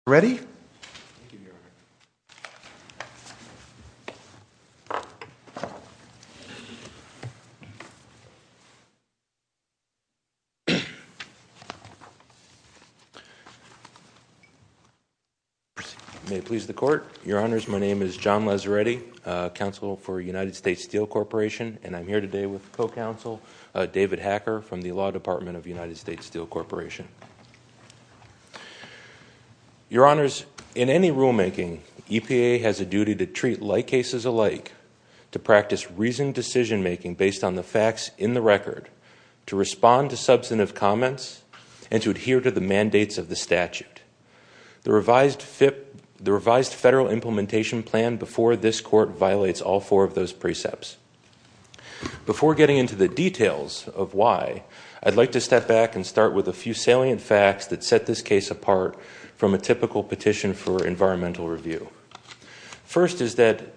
John Lazzaretti, U.S. Steel Corporation Co-Counsel David Hacker, U.S. Steel Corporation Law Department Your Honors, in any rulemaking, EPA has a duty to treat like cases alike, to practice reasoned decision-making based on the facts in the record, to respond to substantive comments, and to adhere to the mandates of the statute. The revised federal implementation plan before this Court violates all four of those precepts. Before getting into the details of why, I'd like to step back and start with a few salient facts that set this case apart from a typical petition for environmental review. First is that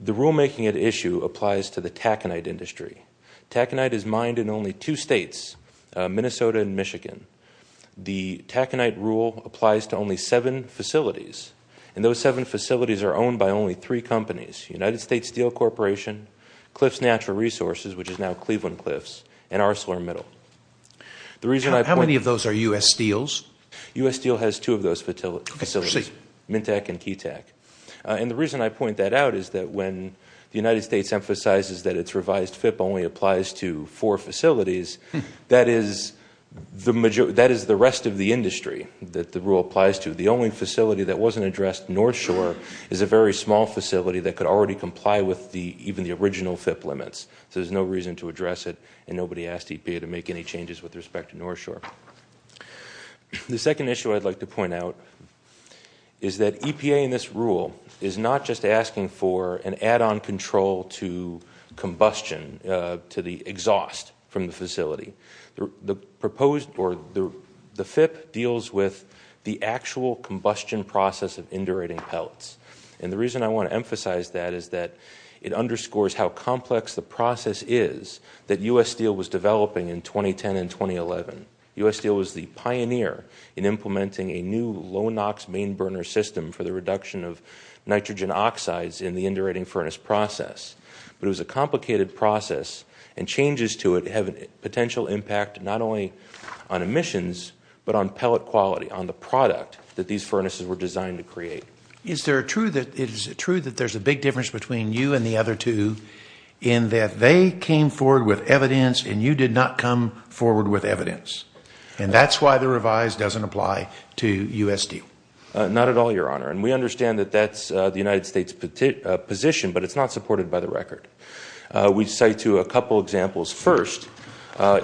the rulemaking at issue applies to the taconite industry. Taconite is mined in only two states, Minnesota and Michigan. The taconite rule applies to only seven facilities, and those seven facilities are owned by only three companies. United States Steel Corporation, Cliffs Natural Resources, which is now Cleveland Cliffs, and ArcelorMittal. How many of those are U.S. Steels? U.S. Steel has two of those facilities, Mintec and Keytec. And the reason I point that out is that when the United States emphasizes that its revised FIP only applies to four facilities, that is the rest of the industry that the rule applies to. The only facility that wasn't addressed, North Shore, is a very small facility that could already comply with even the original FIP limits. So there's no reason to address it, and nobody asked EPA to make any changes with respect to North Shore. The second issue I'd like to point out is that EPA in this rule is not just asking for an add-on control to combustion, to the exhaust from the facility. The FIP deals with the actual combustion process of indurating pelts. And the reason I want to emphasize that is that it underscores how complex the process is that U.S. Steel was developing in 2010 and 2011. U.S. Steel was the pioneer in implementing a new low-NOx main burner system for the reduction of nitrogen oxides in the indurating furnace process. But it was a complicated process, and changes to it have a potential impact not only on emissions, but on pellet quality, on the product that these furnaces were designed to create. Is it true that there's a big difference between you and the other two in that they came forward with evidence and you did not come forward with evidence? And that's why the revise doesn't apply to U.S. Steel. Not at all, Your Honor, and we understand that that's the United States' position, but it's not supported by the record. We cite to a couple examples. First,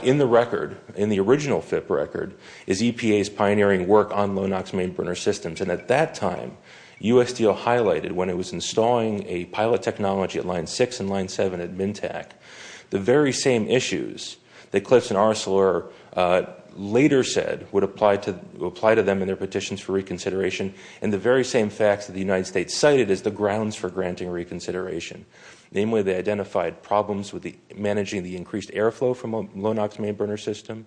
in the record, in the original FIP record, is EPA's pioneering work on low-NOx main burner systems. And at that time, U.S. Steel highlighted, when it was installing a pilot technology at Line 6 and Line 7 at MINTAC, the very same issues that Cliffs and Arcelor later said would apply to them in their petitions for reconsideration and the very same facts that the United States cited as the grounds for granting reconsideration. Namely, they identified problems with managing the increased airflow from a low-NOx main burner system.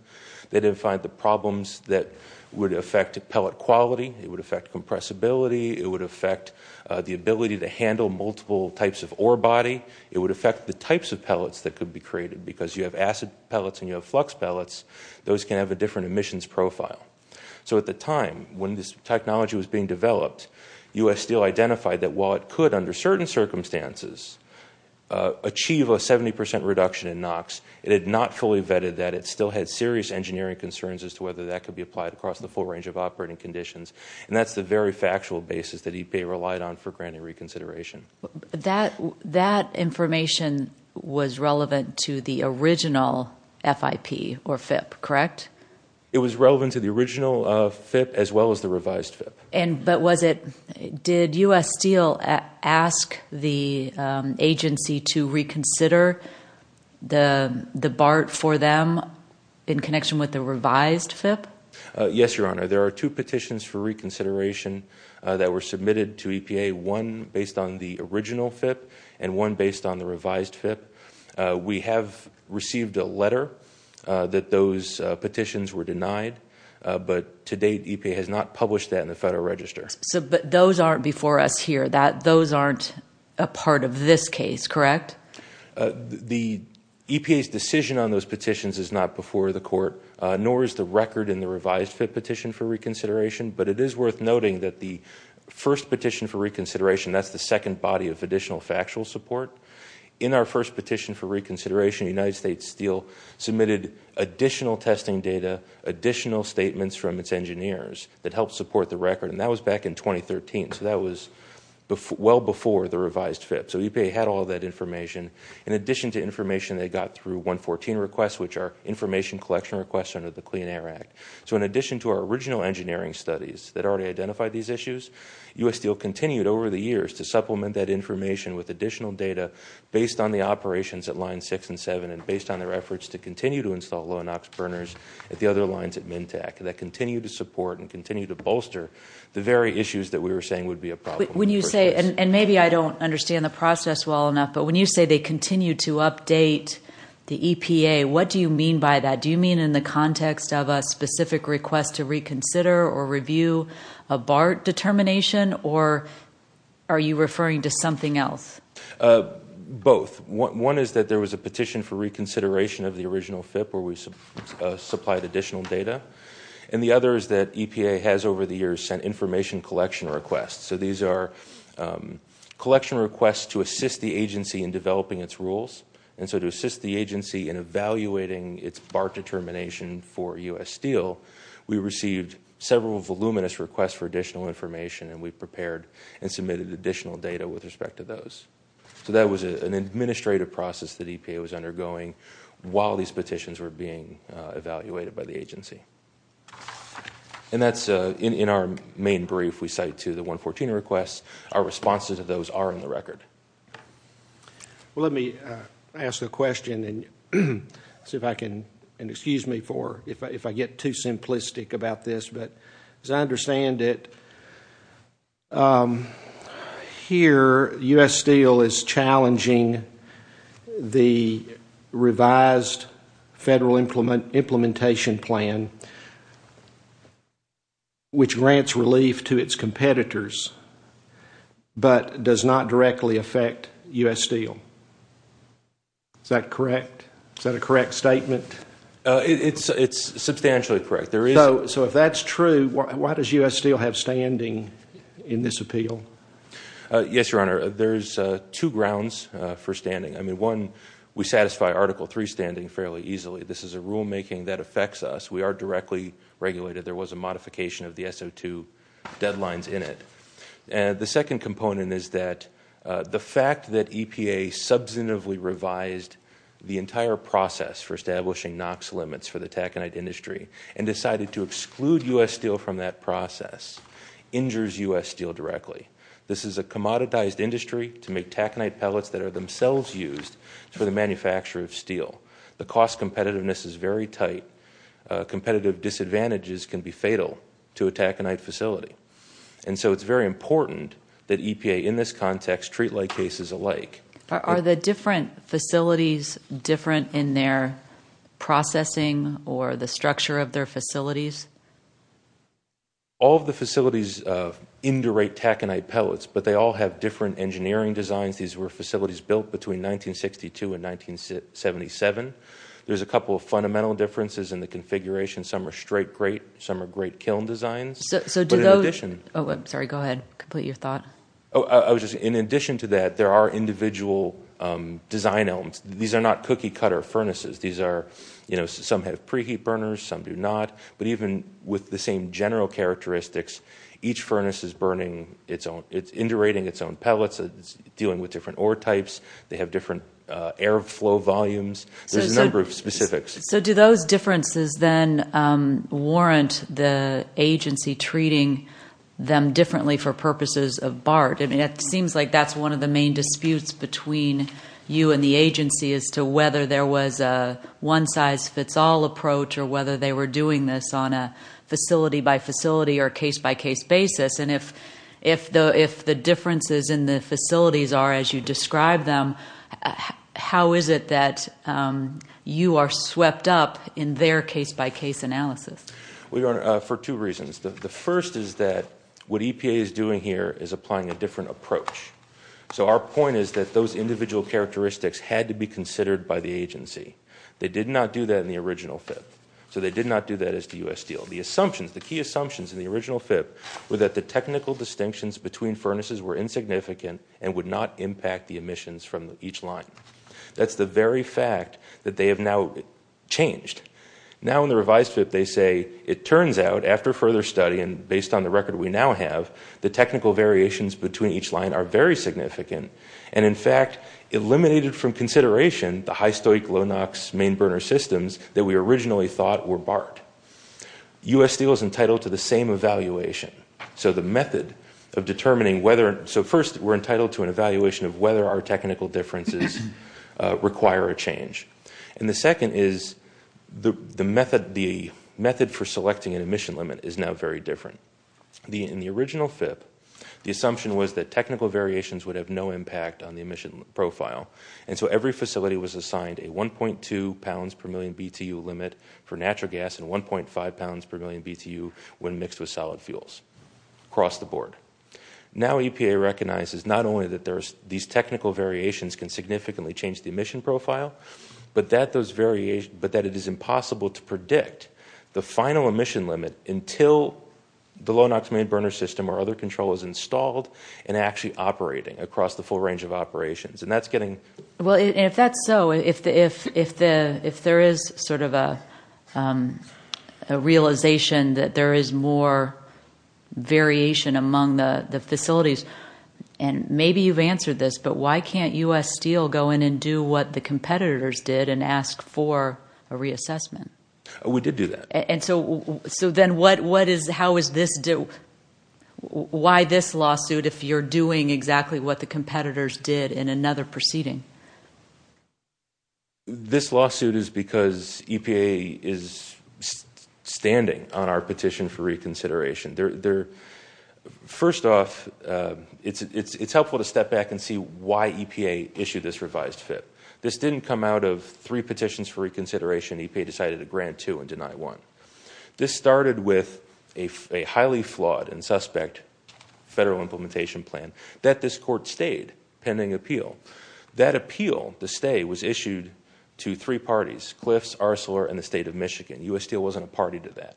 They identified the problems that would affect pellet quality. It would affect compressibility. It would affect the ability to handle multiple types of ore body. It would affect the types of pellets that could be created because you have acid pellets and you have flux pellets. Those can have a different emissions profile. So at the time, when this technology was being developed, U.S. Steel identified that while it could, under certain circumstances, achieve a 70% reduction in NOx, it had not fully vetted that. It still had serious engineering concerns as to whether that could be applied across the full range of operating conditions. And that's the very factual basis that EPA relied on for granting reconsideration. That information was relevant to the original FIP, correct? It was relevant to the original FIP as well as the revised FIP. But did U.S. Steel ask the agency to reconsider the BART for them in connection with the revised FIP? Yes, Your Honor. There are two petitions for reconsideration that were submitted to EPA, one based on the original FIP and one based on the revised FIP. We have received a letter that those petitions were denied, but to date EPA has not published that in the Federal Register. But those aren't before us here. Those aren't a part of this case, correct? The EPA's decision on those petitions is not before the court, nor is the record in the revised FIP petition for reconsideration. But it is worth noting that the first petition for reconsideration, that's the second body of additional factual support. In our first petition for reconsideration, United States Steel submitted additional testing data, additional statements from its engineers that helped support the record, and that was back in 2013. So that was well before the revised FIP. So EPA had all that information. In addition to information they got through 114 requests, which are information collection requests under the Clean Air Act. So in addition to our original engineering studies that already identified these issues, U.S. Steel continued over the years to supplement that information with additional data based on the operations at Lines 6 and 7 and based on their efforts to continue to install low NOx burners at the other lines at MNTAC that continue to support and continue to bolster the very issues that we were saying would be a problem. And maybe I don't understand the process well enough, but when you say they continue to update the EPA, what do you mean by that? Do you mean in the context of a specific request to reconsider or review a BART determination, or are you referring to something else? Both. One is that there was a petition for reconsideration of the original FIP where we supplied additional data, and the other is that EPA has over the years sent information collection requests. So these are collection requests to assist the agency in developing its rules, and so to assist the agency in evaluating its BART determination for U.S. Steel, we received several voluminous requests for additional information, and we prepared and submitted additional data with respect to those. So that was an administrative process that EPA was undergoing while these petitions were being evaluated by the agency. And that's in our main brief we cite to the 114 requests. Our responses to those are in the record. Well, let me ask a question and see if I can, and excuse me if I get too simplistic about this, but as I understand it, here U.S. Steel is challenging the revised federal implementation plan which grants relief to its competitors but does not directly affect U.S. Steel. Is that correct? Is that a correct statement? It's substantially correct. So if that's true, why does U.S. Steel have standing in this appeal? Yes, Your Honor, there's two grounds for standing. I mean, one, we satisfy Article III standing fairly easily. This is a rulemaking that affects us. We are directly regulated. There was a modification of the SO2 deadlines in it. The second component is that the fact that EPA substantively revised the entire process for establishing NOx limits for the taconite industry and decided to exclude U.S. Steel from that process injures U.S. Steel directly. This is a commoditized industry to make taconite pellets that are themselves used for the manufacture of steel. The cost competitiveness is very tight. Competitive disadvantages can be fatal to a taconite facility. And so it's very important that EPA in this context treat like cases alike. Are the different facilities different in their processing or the structure of their facilities? All of the facilities indurate taconite pellets, but they all have different engineering designs. These were facilities built between 1962 and 1977. There's a couple of fundamental differences in the configuration. Some are straight grate. Some are grate kiln designs. So do those – Sorry, go ahead. Complete your thought. In addition to that, there are individual design elements. These are not cookie-cutter furnaces. These are – some have preheat burners, some do not. But even with the same general characteristics, each furnace is burning its own – it's indurating its own pellets. It's dealing with different ore types. They have different airflow volumes. There's a number of specifics. So do those differences then warrant the agency treating them differently for purposes of BART? It seems like that's one of the main disputes between you and the agency as to whether there was a one-size-fits-all approach or whether they were doing this on a facility-by-facility or case-by-case basis. And if the differences in the facilities are as you describe them, how is it that you are swept up in their case-by-case analysis? For two reasons. The first is that what EPA is doing here is applying a different approach. So our point is that those individual characteristics had to be considered by the agency. They did not do that in the original FIP. So they did not do that as the U.S. deal. The assumptions, the key assumptions in the original FIP were that the technical distinctions between furnaces were insignificant and would not impact the emissions from each line. That's the very fact that they have now changed. Now in the revised FIP they say, it turns out, after further study, and based on the record we now have, the technical variations between each line are very significant and, in fact, eliminated from consideration the high-stoic, low-NOx main burner systems that we originally thought were BART. U.S. deal is entitled to the same evaluation. So the method of determining whether, so first we're entitled to an evaluation of whether our technical differences require a change. And the second is the method for selecting an emission limit is now very different. In the original FIP, the assumption was that technical variations would have no impact on the emission profile. And so every facility was assigned a 1.2 pounds per million BTU limit for natural gas and 1.5 pounds per million BTU when mixed with solid fuels across the board. Now EPA recognizes not only that these technical variations can significantly change the emission profile, but that it is impossible to predict the final emission limit until the low-NOx main burner system or other control is installed and actually operating across the full range of operations. And that's getting... Well, if that's so, if there is sort of a realization that there is more variation among the facilities, and maybe you've answered this, but why can't U.S. Steel go in and do what the competitors did and ask for a reassessment? We did do that. And so then what is, how is this, why this lawsuit if you're doing exactly what the competitors did in another proceeding? This lawsuit is because EPA is standing on our petition for reconsideration. First off, it's helpful to step back and see why EPA issued this revised FIP. This didn't come out of three petitions for reconsideration. EPA decided to grant two and deny one. This started with a highly flawed and suspect federal implementation plan that this court stayed pending appeal. That appeal, the stay, was issued to three parties, Cliffs, Arcelor, and the State of Michigan. U.S. Steel wasn't a party to that.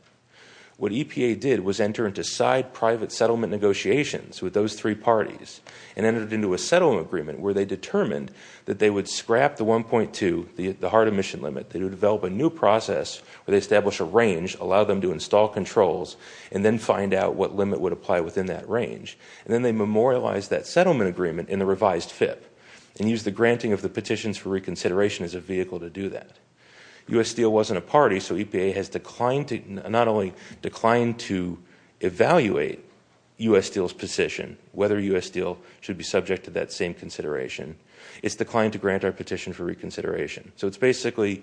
What EPA did was enter into side private settlement negotiations with those three parties and entered into a settlement agreement where they determined that they would scrap the 1.2, the hard emission limit. They would develop a new process where they establish a range, allow them to install controls, and then find out what limit would apply within that range. And then they memorialized that settlement agreement in the revised FIP and used the granting of the petitions for reconsideration as a vehicle to do that. U.S. Steel wasn't a party, so EPA has declined to, not only declined to evaluate U.S. Steel's position, whether U.S. Steel should be subject to that same consideration, it's declined to grant our petition for reconsideration. So it's basically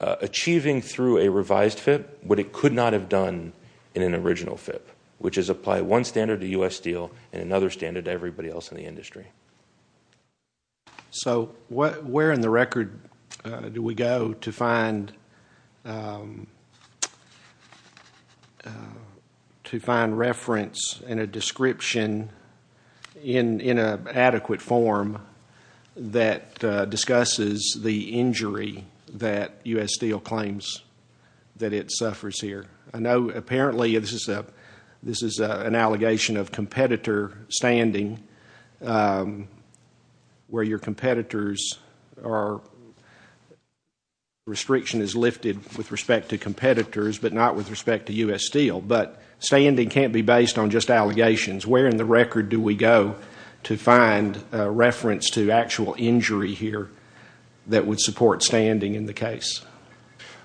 achieving through a revised FIP what it could not have done in an original FIP, which is apply one standard to U.S. Steel and another standard to everybody else in the industry. So where in the record do we go to find reference and a description in an adequate form that discusses the injury that U.S. Steel claims that it suffers here? I know apparently this is an allegation of competitor standing, where your competitors are, restriction is lifted with respect to competitors but not with respect to U.S. Steel, but standing can't be based on just allegations. Where in the record do we go to find reference to actual injury here that would support standing in the case?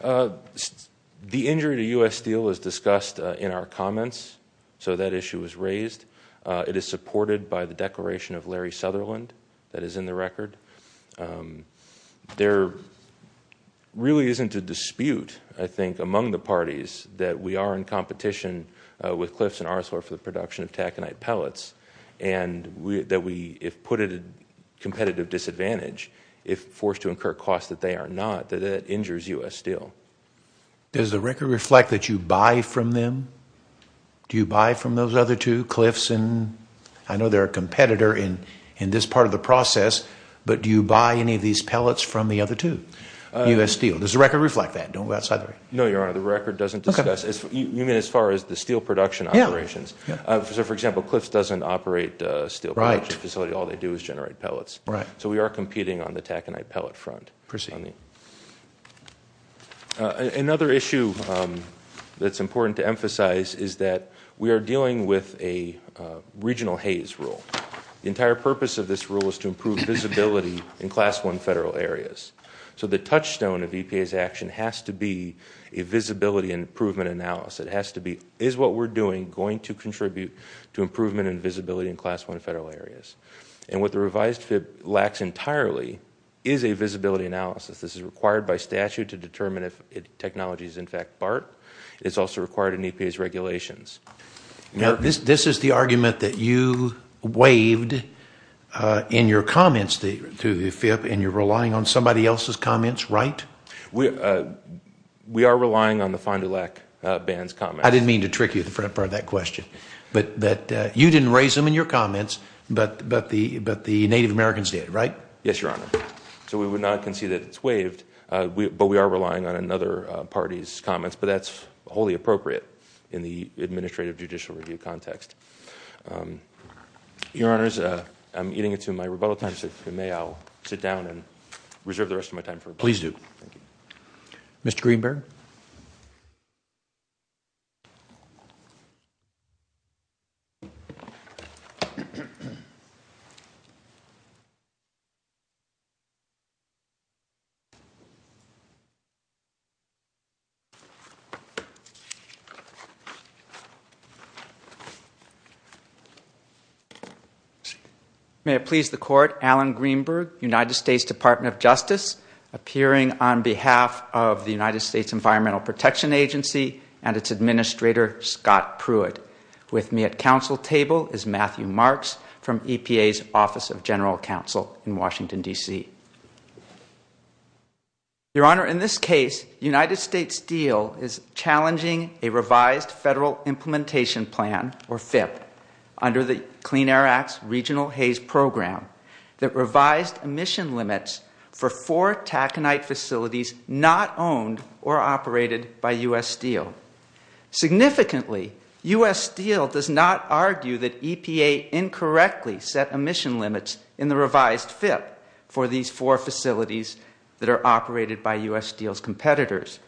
The injury to U.S. Steel was discussed in our comments, so that issue was raised. It is supported by the declaration of Larry Sutherland that is in the record. There really isn't a dispute, I think, among the parties that we are in competition with Cliffs and Arthor for the production of taconite pellets and that we, if put at a competitive disadvantage, if forced to incur costs that they are not, that that injures U.S. Steel. Does the record reflect that you buy from them? Do you buy from those other two, Cliffs and – I know they're a competitor in this part of the process, but do you buy any of these pellets from the other two, U.S. Steel? Does the record reflect that? No, Your Honor, the record doesn't discuss – you mean as far as the steel production operations? For example, Cliffs doesn't operate a steel production facility. All they do is generate pellets. So we are competing on the taconite pellet front. Another issue that's important to emphasize is that we are dealing with a regional haze rule. The entire purpose of this rule is to improve visibility in Class I federal areas. So the touchstone of EPA's action has to be a visibility and improvement analysis. It has to be, is what we're doing going to contribute to improvement and visibility in Class I federal areas? And what the revised FIP lacks entirely is a visibility analysis. This is required by statute to determine if technology is in fact BART. It's also required in EPA's regulations. Now, this is the argument that you waived in your comments to the FIP and you're relying on somebody else's comments, right? We are relying on the find-a-lack ban's comments. I didn't mean to trick you at the front part of that question. But you didn't raise them in your comments, but the Native Americans did, right? Yes, Your Honor. So we would not concede that it's waived, but we are relying on another party's comments. But that's wholly appropriate in the administrative judicial review context. Your Honors, I'm eating into my rebuttal time. So if you may, I'll sit down and reserve the rest of my time for rebuttal. Please do. Mr. Greenberg? May it please the Court, Alan Greenberg, United States Department of Justice, appearing on behalf of the United States Environmental Protection Agency and its administrator, Scott Pruitt. With me at council table is Matthew Marks from EPA's Office of General Counsel in Washington, D.C. Your Honor, in this case, United States Steel is challenging a revised federal implementation plan, or FIPP, under the Clean Air Act's Regional Haze Program that revised emission limits for four taconite facilities not owned or operated by U.S. Steel. Significantly, U.S. Steel does not argue that EPA incorrectly set emission limits in the revised FIPP for these four facilities that are operated by U.S. Steel's competitors.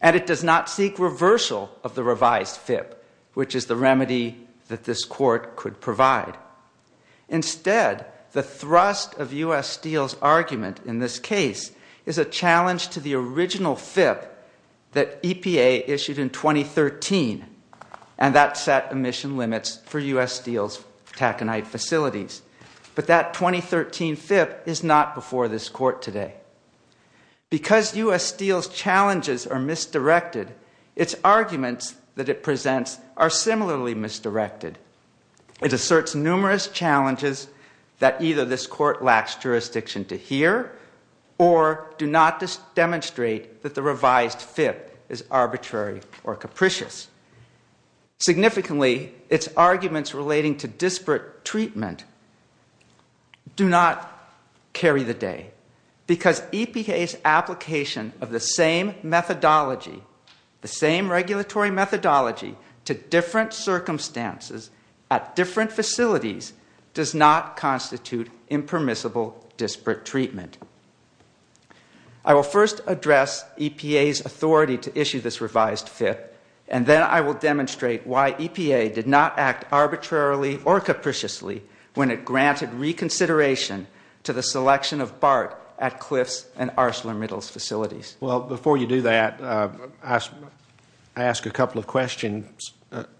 And it does not seek reversal of the revised FIPP, which is the remedy that this Court could provide. Instead, the thrust of U.S. Steel's argument in this case is a challenge to the original FIPP that EPA issued in 2013, and that set emission limits for U.S. Steel's taconite facilities. But that 2013 FIPP is not before this Court today. Because U.S. Steel's challenges are misdirected, its arguments that it presents are similarly misdirected. It asserts numerous challenges that either this Court lacks jurisdiction to hear or do not demonstrate that the revised FIPP is arbitrary or capricious. Significantly, its arguments relating to disparate treatment do not carry the day. Because EPA's application of the same methodology, the same regulatory methodology to different circumstances at different facilities does not constitute impermissible disparate treatment. I will first address EPA's authority to issue this revised FIPP, and then I will demonstrate why EPA did not act arbitrarily or capriciously when it granted reconsideration to the selection of BART at Cliffs and Arschler-Mittles facilities. Well, before you do that, I asked a couple of questions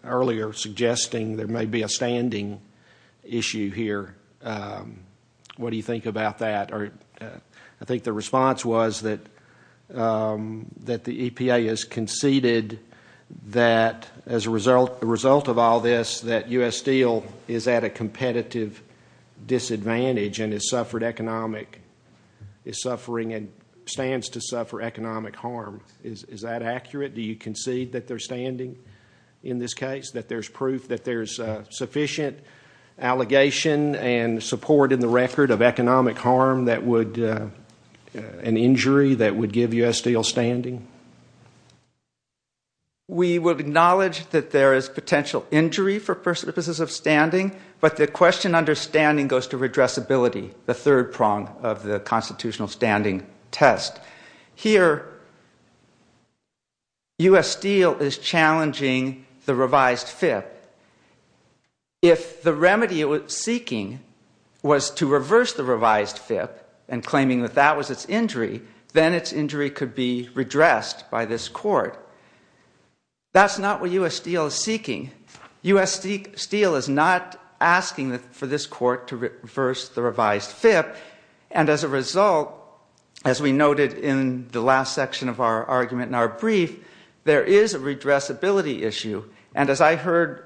earlier suggesting there may be a standing issue here. What do you think about that? I think the response was that the EPA has conceded that, as a result of all this, that U.S. Steel is at a competitive disadvantage and is suffering and stands to suffer economic harm. Is that accurate? Do you concede that they're standing in this case, that there's proof that there's sufficient allegation and support in the record of economic harm and injury that would give U.S. Steel standing? We would acknowledge that there is potential injury for purposes of standing, but the question under standing goes to redressability, the third prong of the constitutional standing test. Here, U.S. Steel is challenging the revised FIPP. If the remedy it was seeking was to reverse the revised FIPP and claiming that that was its injury, then its injury could be redressed by this court. That's not what U.S. Steel is seeking. U.S. Steel is not asking for this court to reverse the revised FIPP, and as a result, as we noted in the last section of our argument in our brief, there is a redressability issue. And as I heard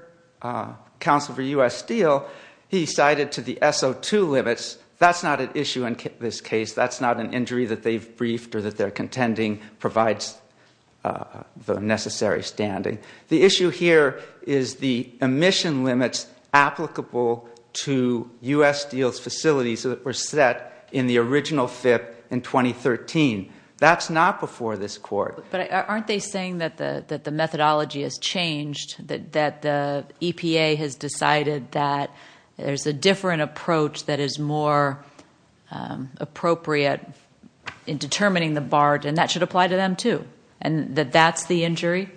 Counsel for U.S. Steel, he cited to the SO2 limits. That's not an issue in this case. That's not an injury that they've briefed or that they're contending provides the necessary standing. The issue here is the emission limits applicable to U.S. Steel's facilities that were set in the original FIPP in 2013. That's not before this court. But aren't they saying that the methodology has changed, that the EPA has decided that there's a different approach that is more appropriate in determining the BART, and that should apply to them, too, and that that's the injury?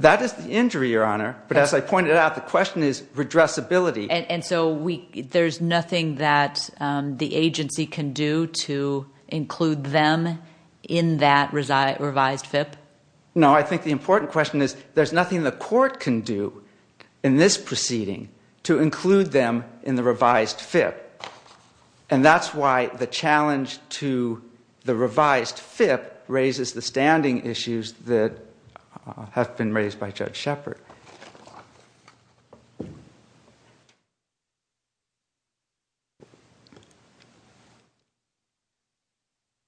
That is the injury, Your Honor, but as I pointed out, the question is redressability. And so there's nothing that the agency can do to include them in that revised FIPP? No, I think the important question is there's nothing the court can do in this proceeding to include them in the revised FIPP, And that's why the challenge to the revised FIPP raises the standing issues that have been raised by Judge Shepard.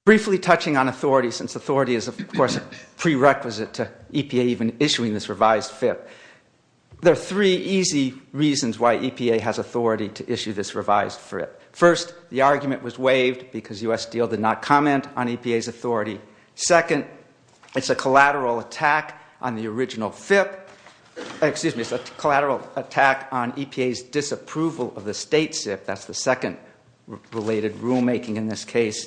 Briefly touching on authority, since authority is, of course, a prerequisite to EPA even issuing this revised FIPP, there are three easy reasons why EPA has authority to issue this revised FIPP. First, the argument was waived because U.S. Steel did not comment on EPA's authority. Second, it's a collateral attack on the original FIPP. Excuse me, it's a collateral attack on EPA's disapproval of the state SIPP. That's the second related rulemaking in this case.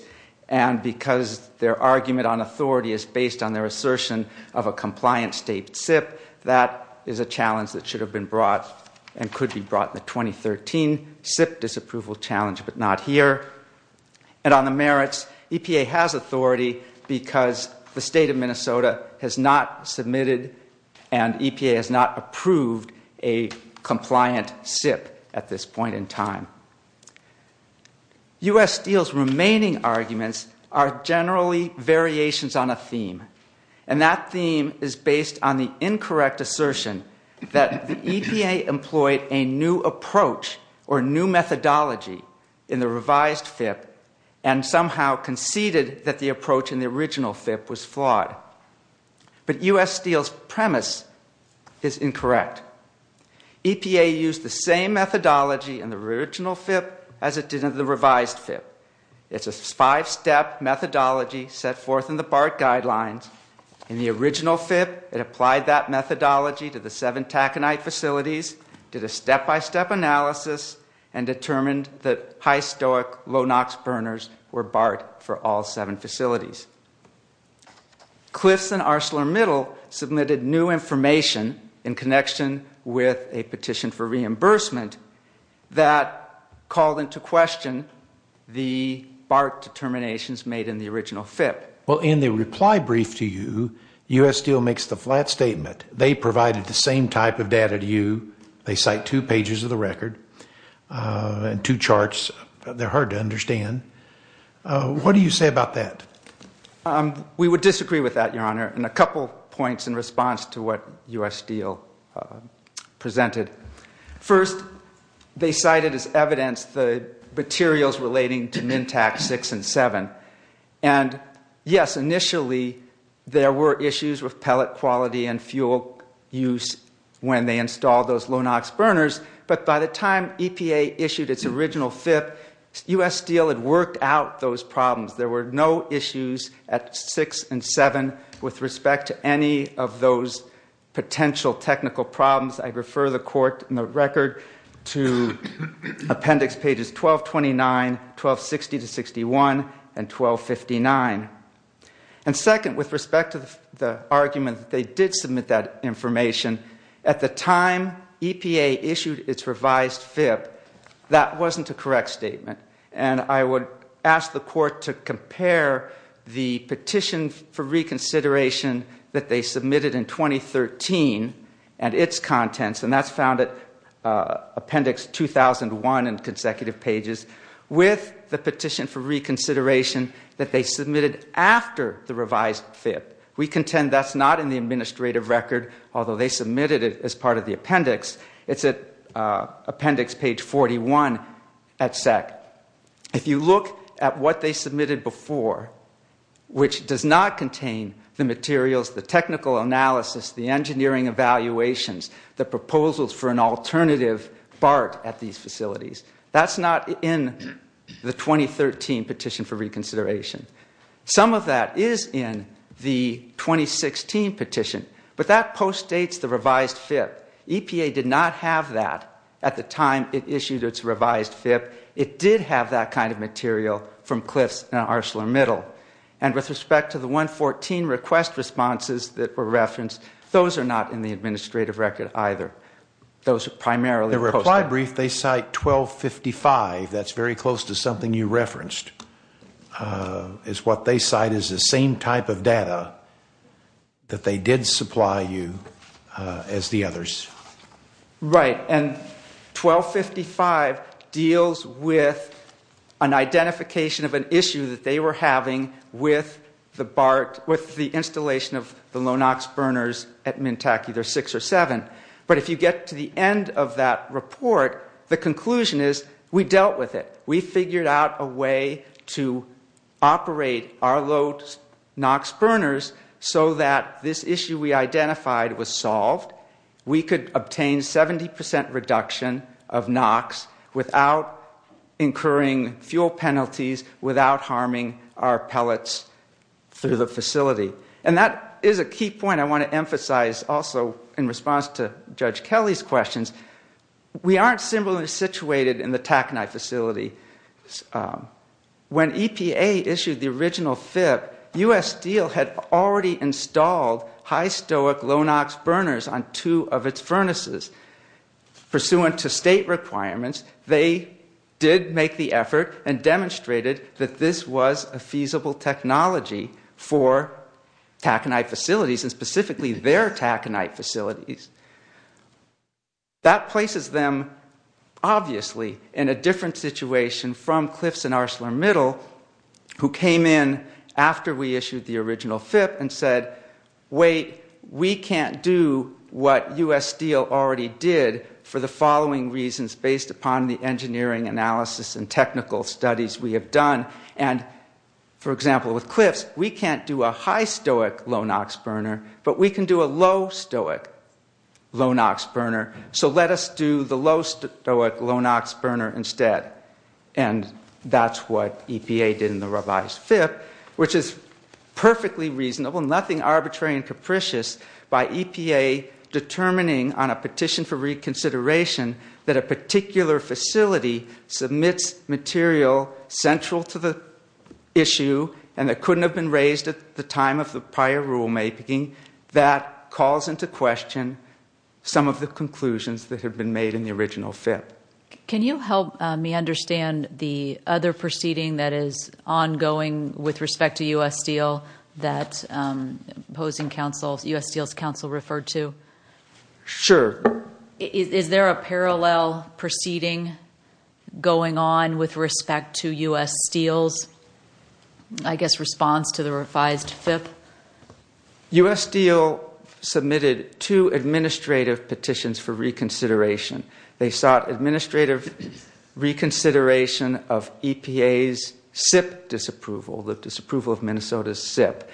And because their argument on authority is based on their assertion of a compliance state SIPP, that is a challenge that should have been brought and could be brought in the 2013 SIPP disapproval challenge, but not here. And on the merits, EPA has authority because the state of Minnesota has not submitted and EPA has not approved a compliant SIPP at this point in time. U.S. Steel's remaining arguments are generally variations on a theme. And that theme is based on the incorrect assertion that the EPA employed a new approach or new methodology in the revised FIPP and somehow conceded that the approach in the original FIPP was flawed. But U.S. Steel's premise is incorrect. EPA used the same methodology in the original FIPP as it did in the revised FIPP. It's a five-step methodology set forth in the BART guidelines. In the original FIPP, it applied that methodology to the seven taconite facilities, did a step-by-step analysis, and determined that high-stoic, low-NOx burners were BART for all seven facilities. Cliffs and ArcelorMittal submitted new information in connection with a petition for reimbursement that called into question the BART determinations made in the original FIPP. Well, in the reply brief to you, U.S. Steel makes the flat statement. They provided the same type of data to you. They cite two pages of the record and two charts. They're hard to understand. What do you say about that? We would disagree with that, Your Honor, in a couple points in response to what U.S. Steel presented. First, they cited as evidence the materials relating to MINTAC 6 and 7. And, yes, initially there were issues with pellet quality and fuel use when they installed those low-NOx burners, but by the time EPA issued its original FIPP, U.S. Steel had worked out those problems. There were no issues at 6 and 7 with respect to any of those potential technical problems. I refer the court in the record to appendix pages 1229, 1260-61, and 1259. And second, with respect to the argument that they did submit that information, at the time EPA issued its revised FIPP, that wasn't a correct statement. And I would ask the court to compare the petition for reconsideration that they submitted in 2013 and its contents, and that's found at appendix 2001 in consecutive pages, with the petition for reconsideration that they submitted after the revised FIPP. We contend that's not in the administrative record, although they submitted it as part of the appendix. It's at appendix page 41 at SEC. If you look at what they submitted before, which does not contain the materials, the technical analysis, the engineering evaluations, the proposals for an alternative BART at these facilities, that's not in the 2013 petition for reconsideration. Some of that is in the 2016 petition, but that postdates the revised FIPP. EPA did not have that at the time it issued its revised FIPP. It did have that kind of material from Cliffs and ArcelorMittal. And with respect to the 114 request responses that were referenced, those are not in the administrative record either. Those are primarily posted. The reply brief, they cite 1255. That's very close to something you referenced. It's what they cite as the same type of data that they did supply you as the others. Right. And 1255 deals with an identification of an issue that they were having with the BART, with the installation of the Lonox burners at Mintak either 6 or 7. But if you get to the end of that report, the conclusion is we dealt with it. We figured out a way to operate our Lonox burners so that this issue we identified was solved. We could obtain 70% reduction of NOx without incurring fuel penalties, without harming our pellets through the facility. And that is a key point I want to emphasize also in response to Judge Kelly's questions. We aren't simply situated in the Taconite facility. When EPA issued the original FIP, U.S. Steel had already installed high stoic Lonox burners on two of its furnaces. Pursuant to state requirements, they did make the effort and demonstrated that this was a feasible technology for Taconite facilities, and specifically their Taconite facilities. That places them obviously in a different situation from Cliffs and ArcelorMittal, who came in after we issued the original FIP and said, wait, we can't do what U.S. Steel already did for the following reasons based upon the engineering analysis and technical studies we have done. For example, with Cliffs, we can't do a high stoic Lonox burner, but we can do a low stoic Lonox burner. So let us do the low stoic Lonox burner instead. And that's what EPA did in the revised FIP, which is perfectly reasonable, nothing arbitrary and capricious, by EPA determining on a petition for reconsideration that a particular facility submits material central to the issue and that couldn't have been raised at the time of the prior rulemaking. That calls into question some of the conclusions that have been made in the original FIP. Can you help me understand the other proceeding that is ongoing with respect to U.S. Steel that U.S. Steel's counsel referred to? Sure. Is there a parallel proceeding going on with respect to U.S. Steel's, I guess, response to the revised FIP? U.S. Steel submitted two administrative petitions for reconsideration. They sought administrative reconsideration of EPA's SIP disapproval, the disapproval of Minnesota's SIP,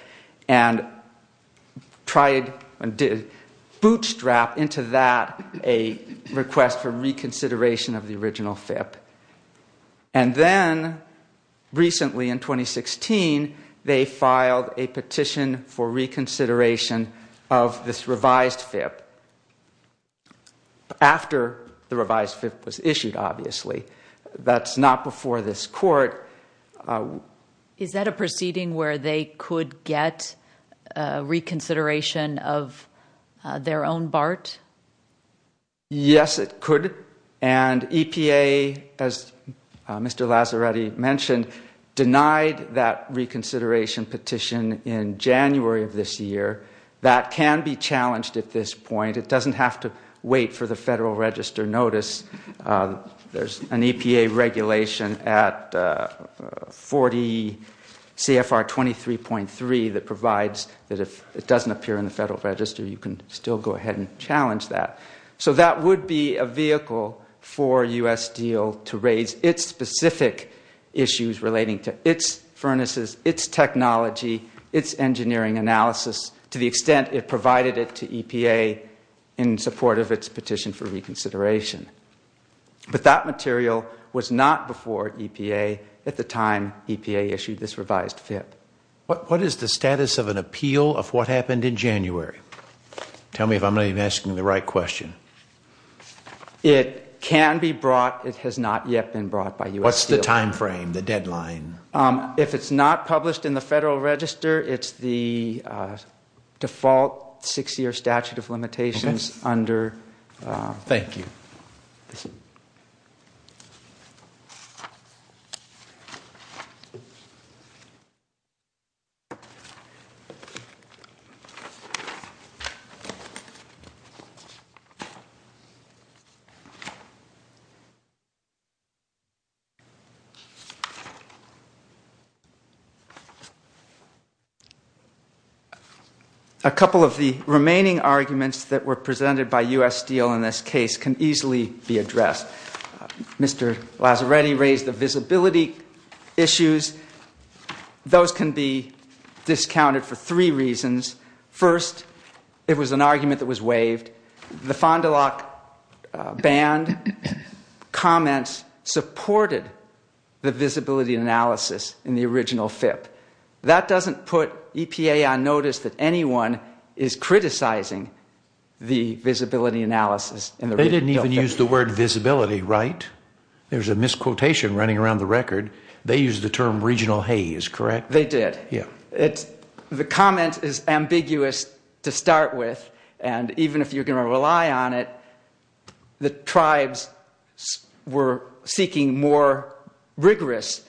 and bootstrapped into that a request for reconsideration of the original FIP. And then recently, in 2016, they filed a petition for reconsideration of this revised FIP. After the revised FIP was issued, obviously. That's not before this court. Is that a proceeding where they could get reconsideration of their own BART? Yes, it could. And EPA, as Mr. Lazzaretti mentioned, denied that reconsideration petition in January of this year. That can be challenged at this point. It doesn't have to wait for the Federal Register notice. There's an EPA regulation at 40 CFR 23.3 that provides that if it doesn't appear in the Federal Register, you can still go ahead and challenge that. So that would be a vehicle for U.S. Steel to raise its specific issues relating to its furnaces, its technology, its engineering analysis, to the extent it provided it to EPA in support of its petition for reconsideration. But that material was not before EPA at the time EPA issued this revised FIP. What is the status of an appeal of what happened in January? Tell me if I'm even asking the right question. It can be brought. It has not yet been brought by U.S. Steel. What's the time frame, the deadline? If it's not published in the Federal Register, it's the default 6-year statute of limitations under. Thank you. A couple of the remaining arguments that were presented by U.S. Steel in this case can easily be addressed. Mr. Lazzaretti raised the visibility issues. Those can be discounted for three reasons. First, it was an argument that was waived. The Fond du Lac banned comments supported the visibility analysis in the original FIP. That doesn't put EPA on notice that anyone is criticizing the visibility analysis. They didn't even use the word visibility, right? There's a misquotation running around the record. They used the term regional haze, correct? They did. The comment is ambiguous to start with, and even if you're going to rely on it, the tribes were seeking more rigorous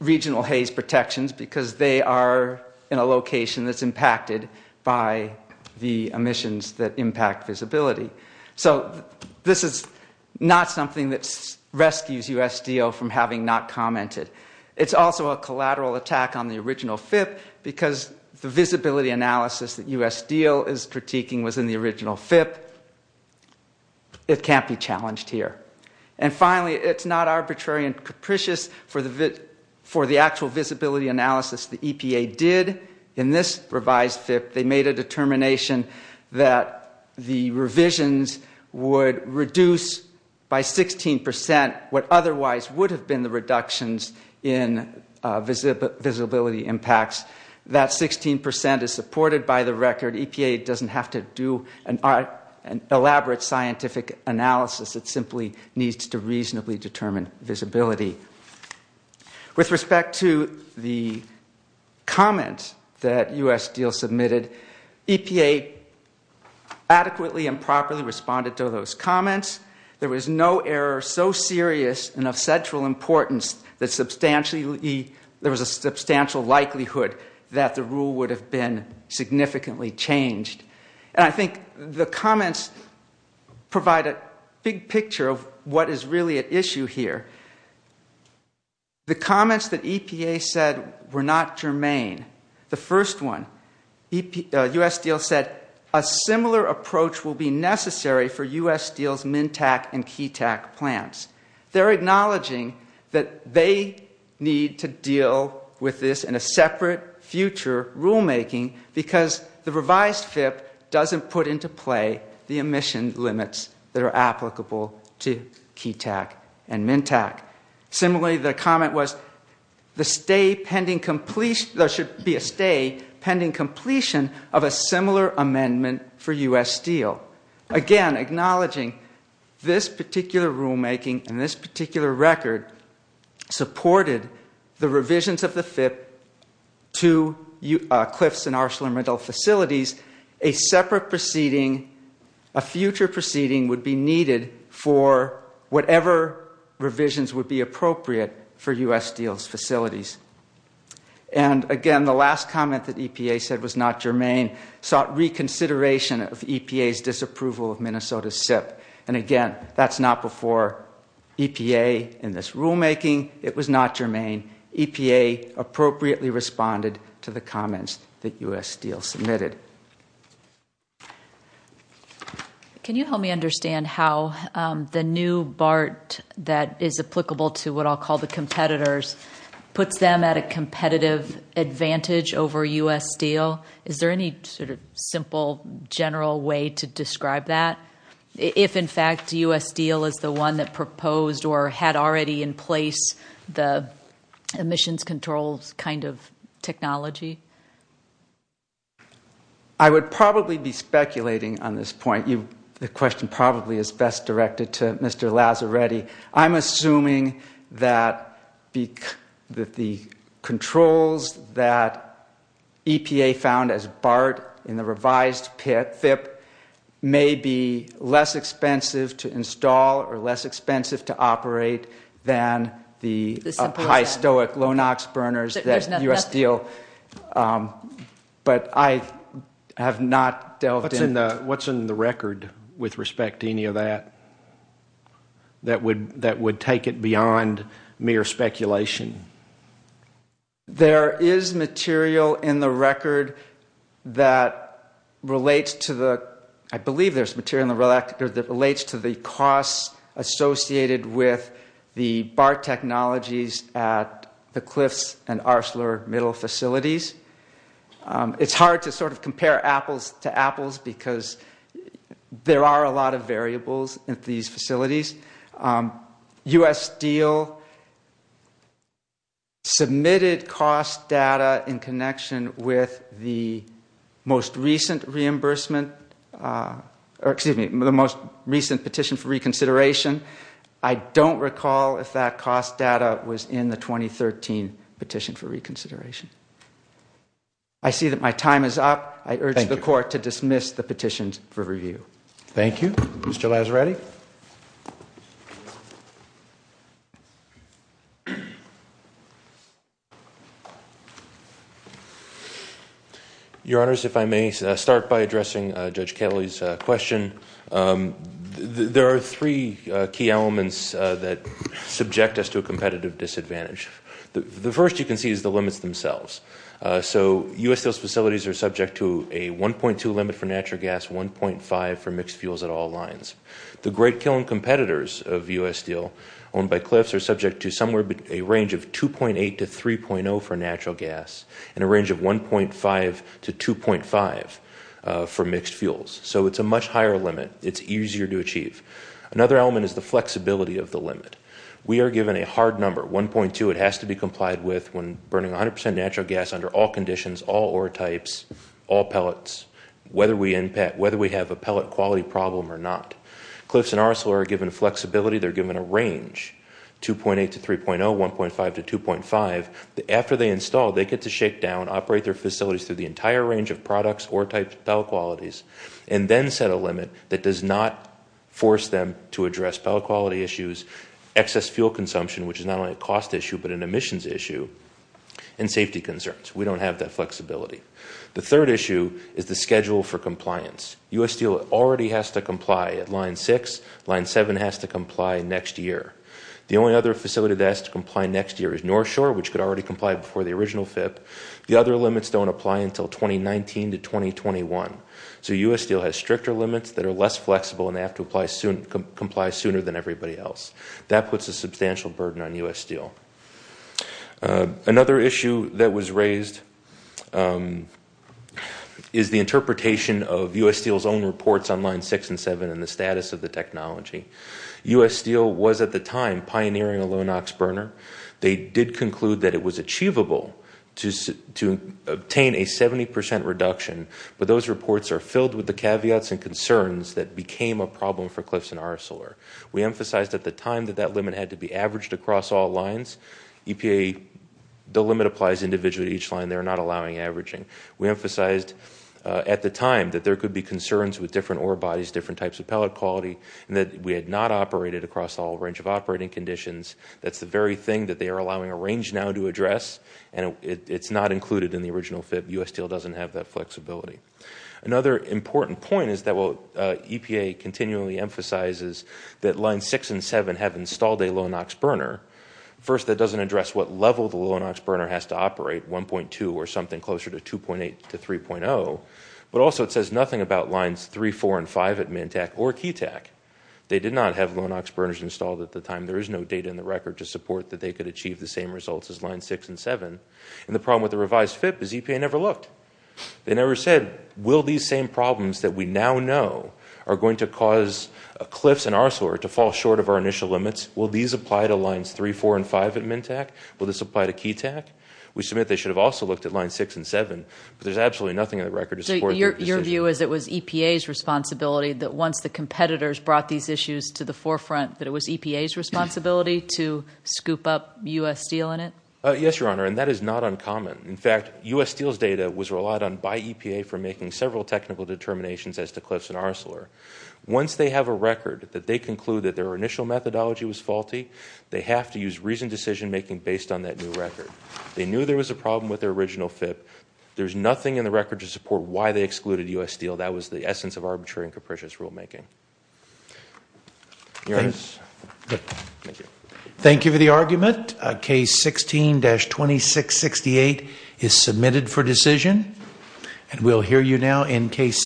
regional haze protections because they are in a location that's impacted by the emissions that impact visibility. So this is not something that rescues U.S. Steel from having not commented. It's also a collateral attack on the original FIP because the visibility analysis that U.S. Steel is critiquing was in the original FIP. It can't be challenged here. And finally, it's not arbitrary and capricious for the actual visibility analysis that EPA did. In this revised FIP, they made a determination that the revisions would reduce by 16% what otherwise would have been the reductions in visibility impacts. That 16% is supported by the record. EPA doesn't have to do an elaborate scientific analysis. It simply needs to reasonably determine visibility. With respect to the comment that U.S. Steel submitted, EPA adequately and properly responded to those comments. There was no error so serious and of central importance that there was a substantial likelihood that the rule would have been significantly changed. And I think the comments provide a big picture of what is really at issue here. The comments that EPA said were not germane. The first one, U.S. Steel said, a similar approach will be necessary for U.S. Steel's MNTAC and KTAC plants. They're acknowledging that they need to deal with this in a separate future rulemaking because the revised FIP doesn't put into play the emission limits that are applicable to KTAC and MNTAC. Similarly, the comment was, there should be a stay pending completion of a similar amendment for U.S. Steel. Again, acknowledging this particular rulemaking and this particular record supported the revisions of the FIP to cliffs and arsenal and rental facilities, a separate proceeding, a future proceeding, would be needed for whatever revisions would be appropriate for U.S. Steel's facilities. And again, the last comment that EPA said was not germane sought reconsideration of EPA's disapproval of Minnesota's SIP. And again, that's not before EPA in this rulemaking. It was not germane. EPA appropriately responded to the comments that U.S. Steel submitted. Can you help me understand how the new BART that is applicable to what I'll call the competitors puts them at a competitive advantage over U.S. Steel? Is there any sort of simple, general way to describe that? If, in fact, U.S. Steel is the one that proposed or had already in place the emissions controls kind of technology? I would probably be speculating on this point. The question probably is best directed to Mr. Lazzaretti. I'm assuming that the controls that EPA found as BART in the revised FIP may be less expensive to install or less expensive to operate than the high-stoic, low-NOx burners that U.S. Steel. But I have not delved into that. What's in the record with respect to any of that that would take it beyond mere speculation? There is material in the record that relates to the costs associated with the BART technologies at the Cliffs and Arsler middle facilities. It's hard to sort of compare apples to apples because there are a lot of variables at these facilities. U.S. Steel submitted cost data in connection with the most recent petition for reconsideration. I don't recall if that cost data was in the 2013 petition for reconsideration. I see that my time is up. I urge the Court to dismiss the petitions for review. Thank you. Mr. Lazzaretti. Your Honors, if I may start by addressing Judge Kelly's question. There are three key elements that subject us to a competitive disadvantage. The first you can see is the limits themselves. U.S. Steel's facilities are subject to a 1.2 limit for natural gas, 1.5 for mixed fuels at all lines. The great kiln competitors of U.S. Steel owned by Cliffs are subject to somewhere between a range of 2.8 to 3.0 for natural gas and a range of 1.5 to 2.5 for mixed fuels. So it's a much higher limit. It's easier to achieve. Another element is the flexibility of the limit. We are given a hard number, 1.2. It has to be complied with when burning 100 percent natural gas under all conditions, all ore types, all pellets, whether we have a pellet quality problem or not. Cliffs and Arcelor are given flexibility. They're given a range, 2.8 to 3.0, 1.5 to 2.5. After they install, they get to shake down, operate their facilities through the entire range of products, ore types, pellet qualities, and then set a limit that does not force them to address pellet quality issues, excess fuel consumption, which is not only a cost issue but an emissions issue, and safety concerns. We don't have that flexibility. The third issue is the schedule for compliance. U.S. Steel already has to comply at Line 6. Line 7 has to comply next year. The only other facility that has to comply next year is North Shore, which could already comply before the original FIP. The other limits don't apply until 2019 to 2021. So U.S. Steel has stricter limits that are less flexible and they have to comply sooner than everybody else. That puts a substantial burden on U.S. Steel. Another issue that was raised is the interpretation of U.S. Steel's own reports on Line 6 and 7 and the status of the technology. U.S. Steel was at the time pioneering a low NOx burner. They did conclude that it was achievable to obtain a 70% reduction, but those reports are filled with the caveats and concerns that became a problem for Cliffs and Arcelor. We emphasized at the time that that limit had to be averaged across all lines. EPA, the limit applies individually to each line. They're not allowing averaging. We emphasized at the time that there could be concerns with different ore bodies, different types of pellet quality, and that we had not operated across all range of operating conditions. That's the very thing that they are allowing a range now to address, and it's not included in the original FIP. U.S. Steel doesn't have that flexibility. Another important point is that EPA continually emphasizes that Lines 6 and 7 have installed a low NOx burner. First, that doesn't address what level the low NOx burner has to operate, 1.2 or something closer to 2.8 to 3.0, but also it says nothing about Lines 3, 4, and 5 at Mantec or Ketac. They did not have low NOx burners installed at the time. There is no data in the record to support that they could achieve the same results as Lines 6 and 7. And the problem with the revised FIP is EPA never looked. They never said, will these same problems that we now know are going to cause cliffs in our sewer to fall short of our initial limits? Will these apply to Lines 3, 4, and 5 at Mantec? Will this apply to Ketac? We submit they should have also looked at Lines 6 and 7, but there's absolutely nothing in the record to support that decision. So your view is it was EPA's responsibility that once the competitors brought these issues to the forefront that it was EPA's responsibility to scoop up U.S. Steel in it? Yes, Your Honor, and that is not uncommon. In fact, U.S. Steel's data was relied on by EPA for making several technical determinations as to cliffs in our sewer. Once they have a record that they conclude that their initial methodology was faulty, they have to use reasoned decision-making based on that new record. They knew there was a problem with their original FIP. There's nothing in the record to support why they excluded U.S. Steel. That was the essence of arbitrary and capricious rulemaking. Your Honor. Thank you. Thank you for the argument. Case 16-2668 is submitted for decision, and we'll hear you now in Case 16.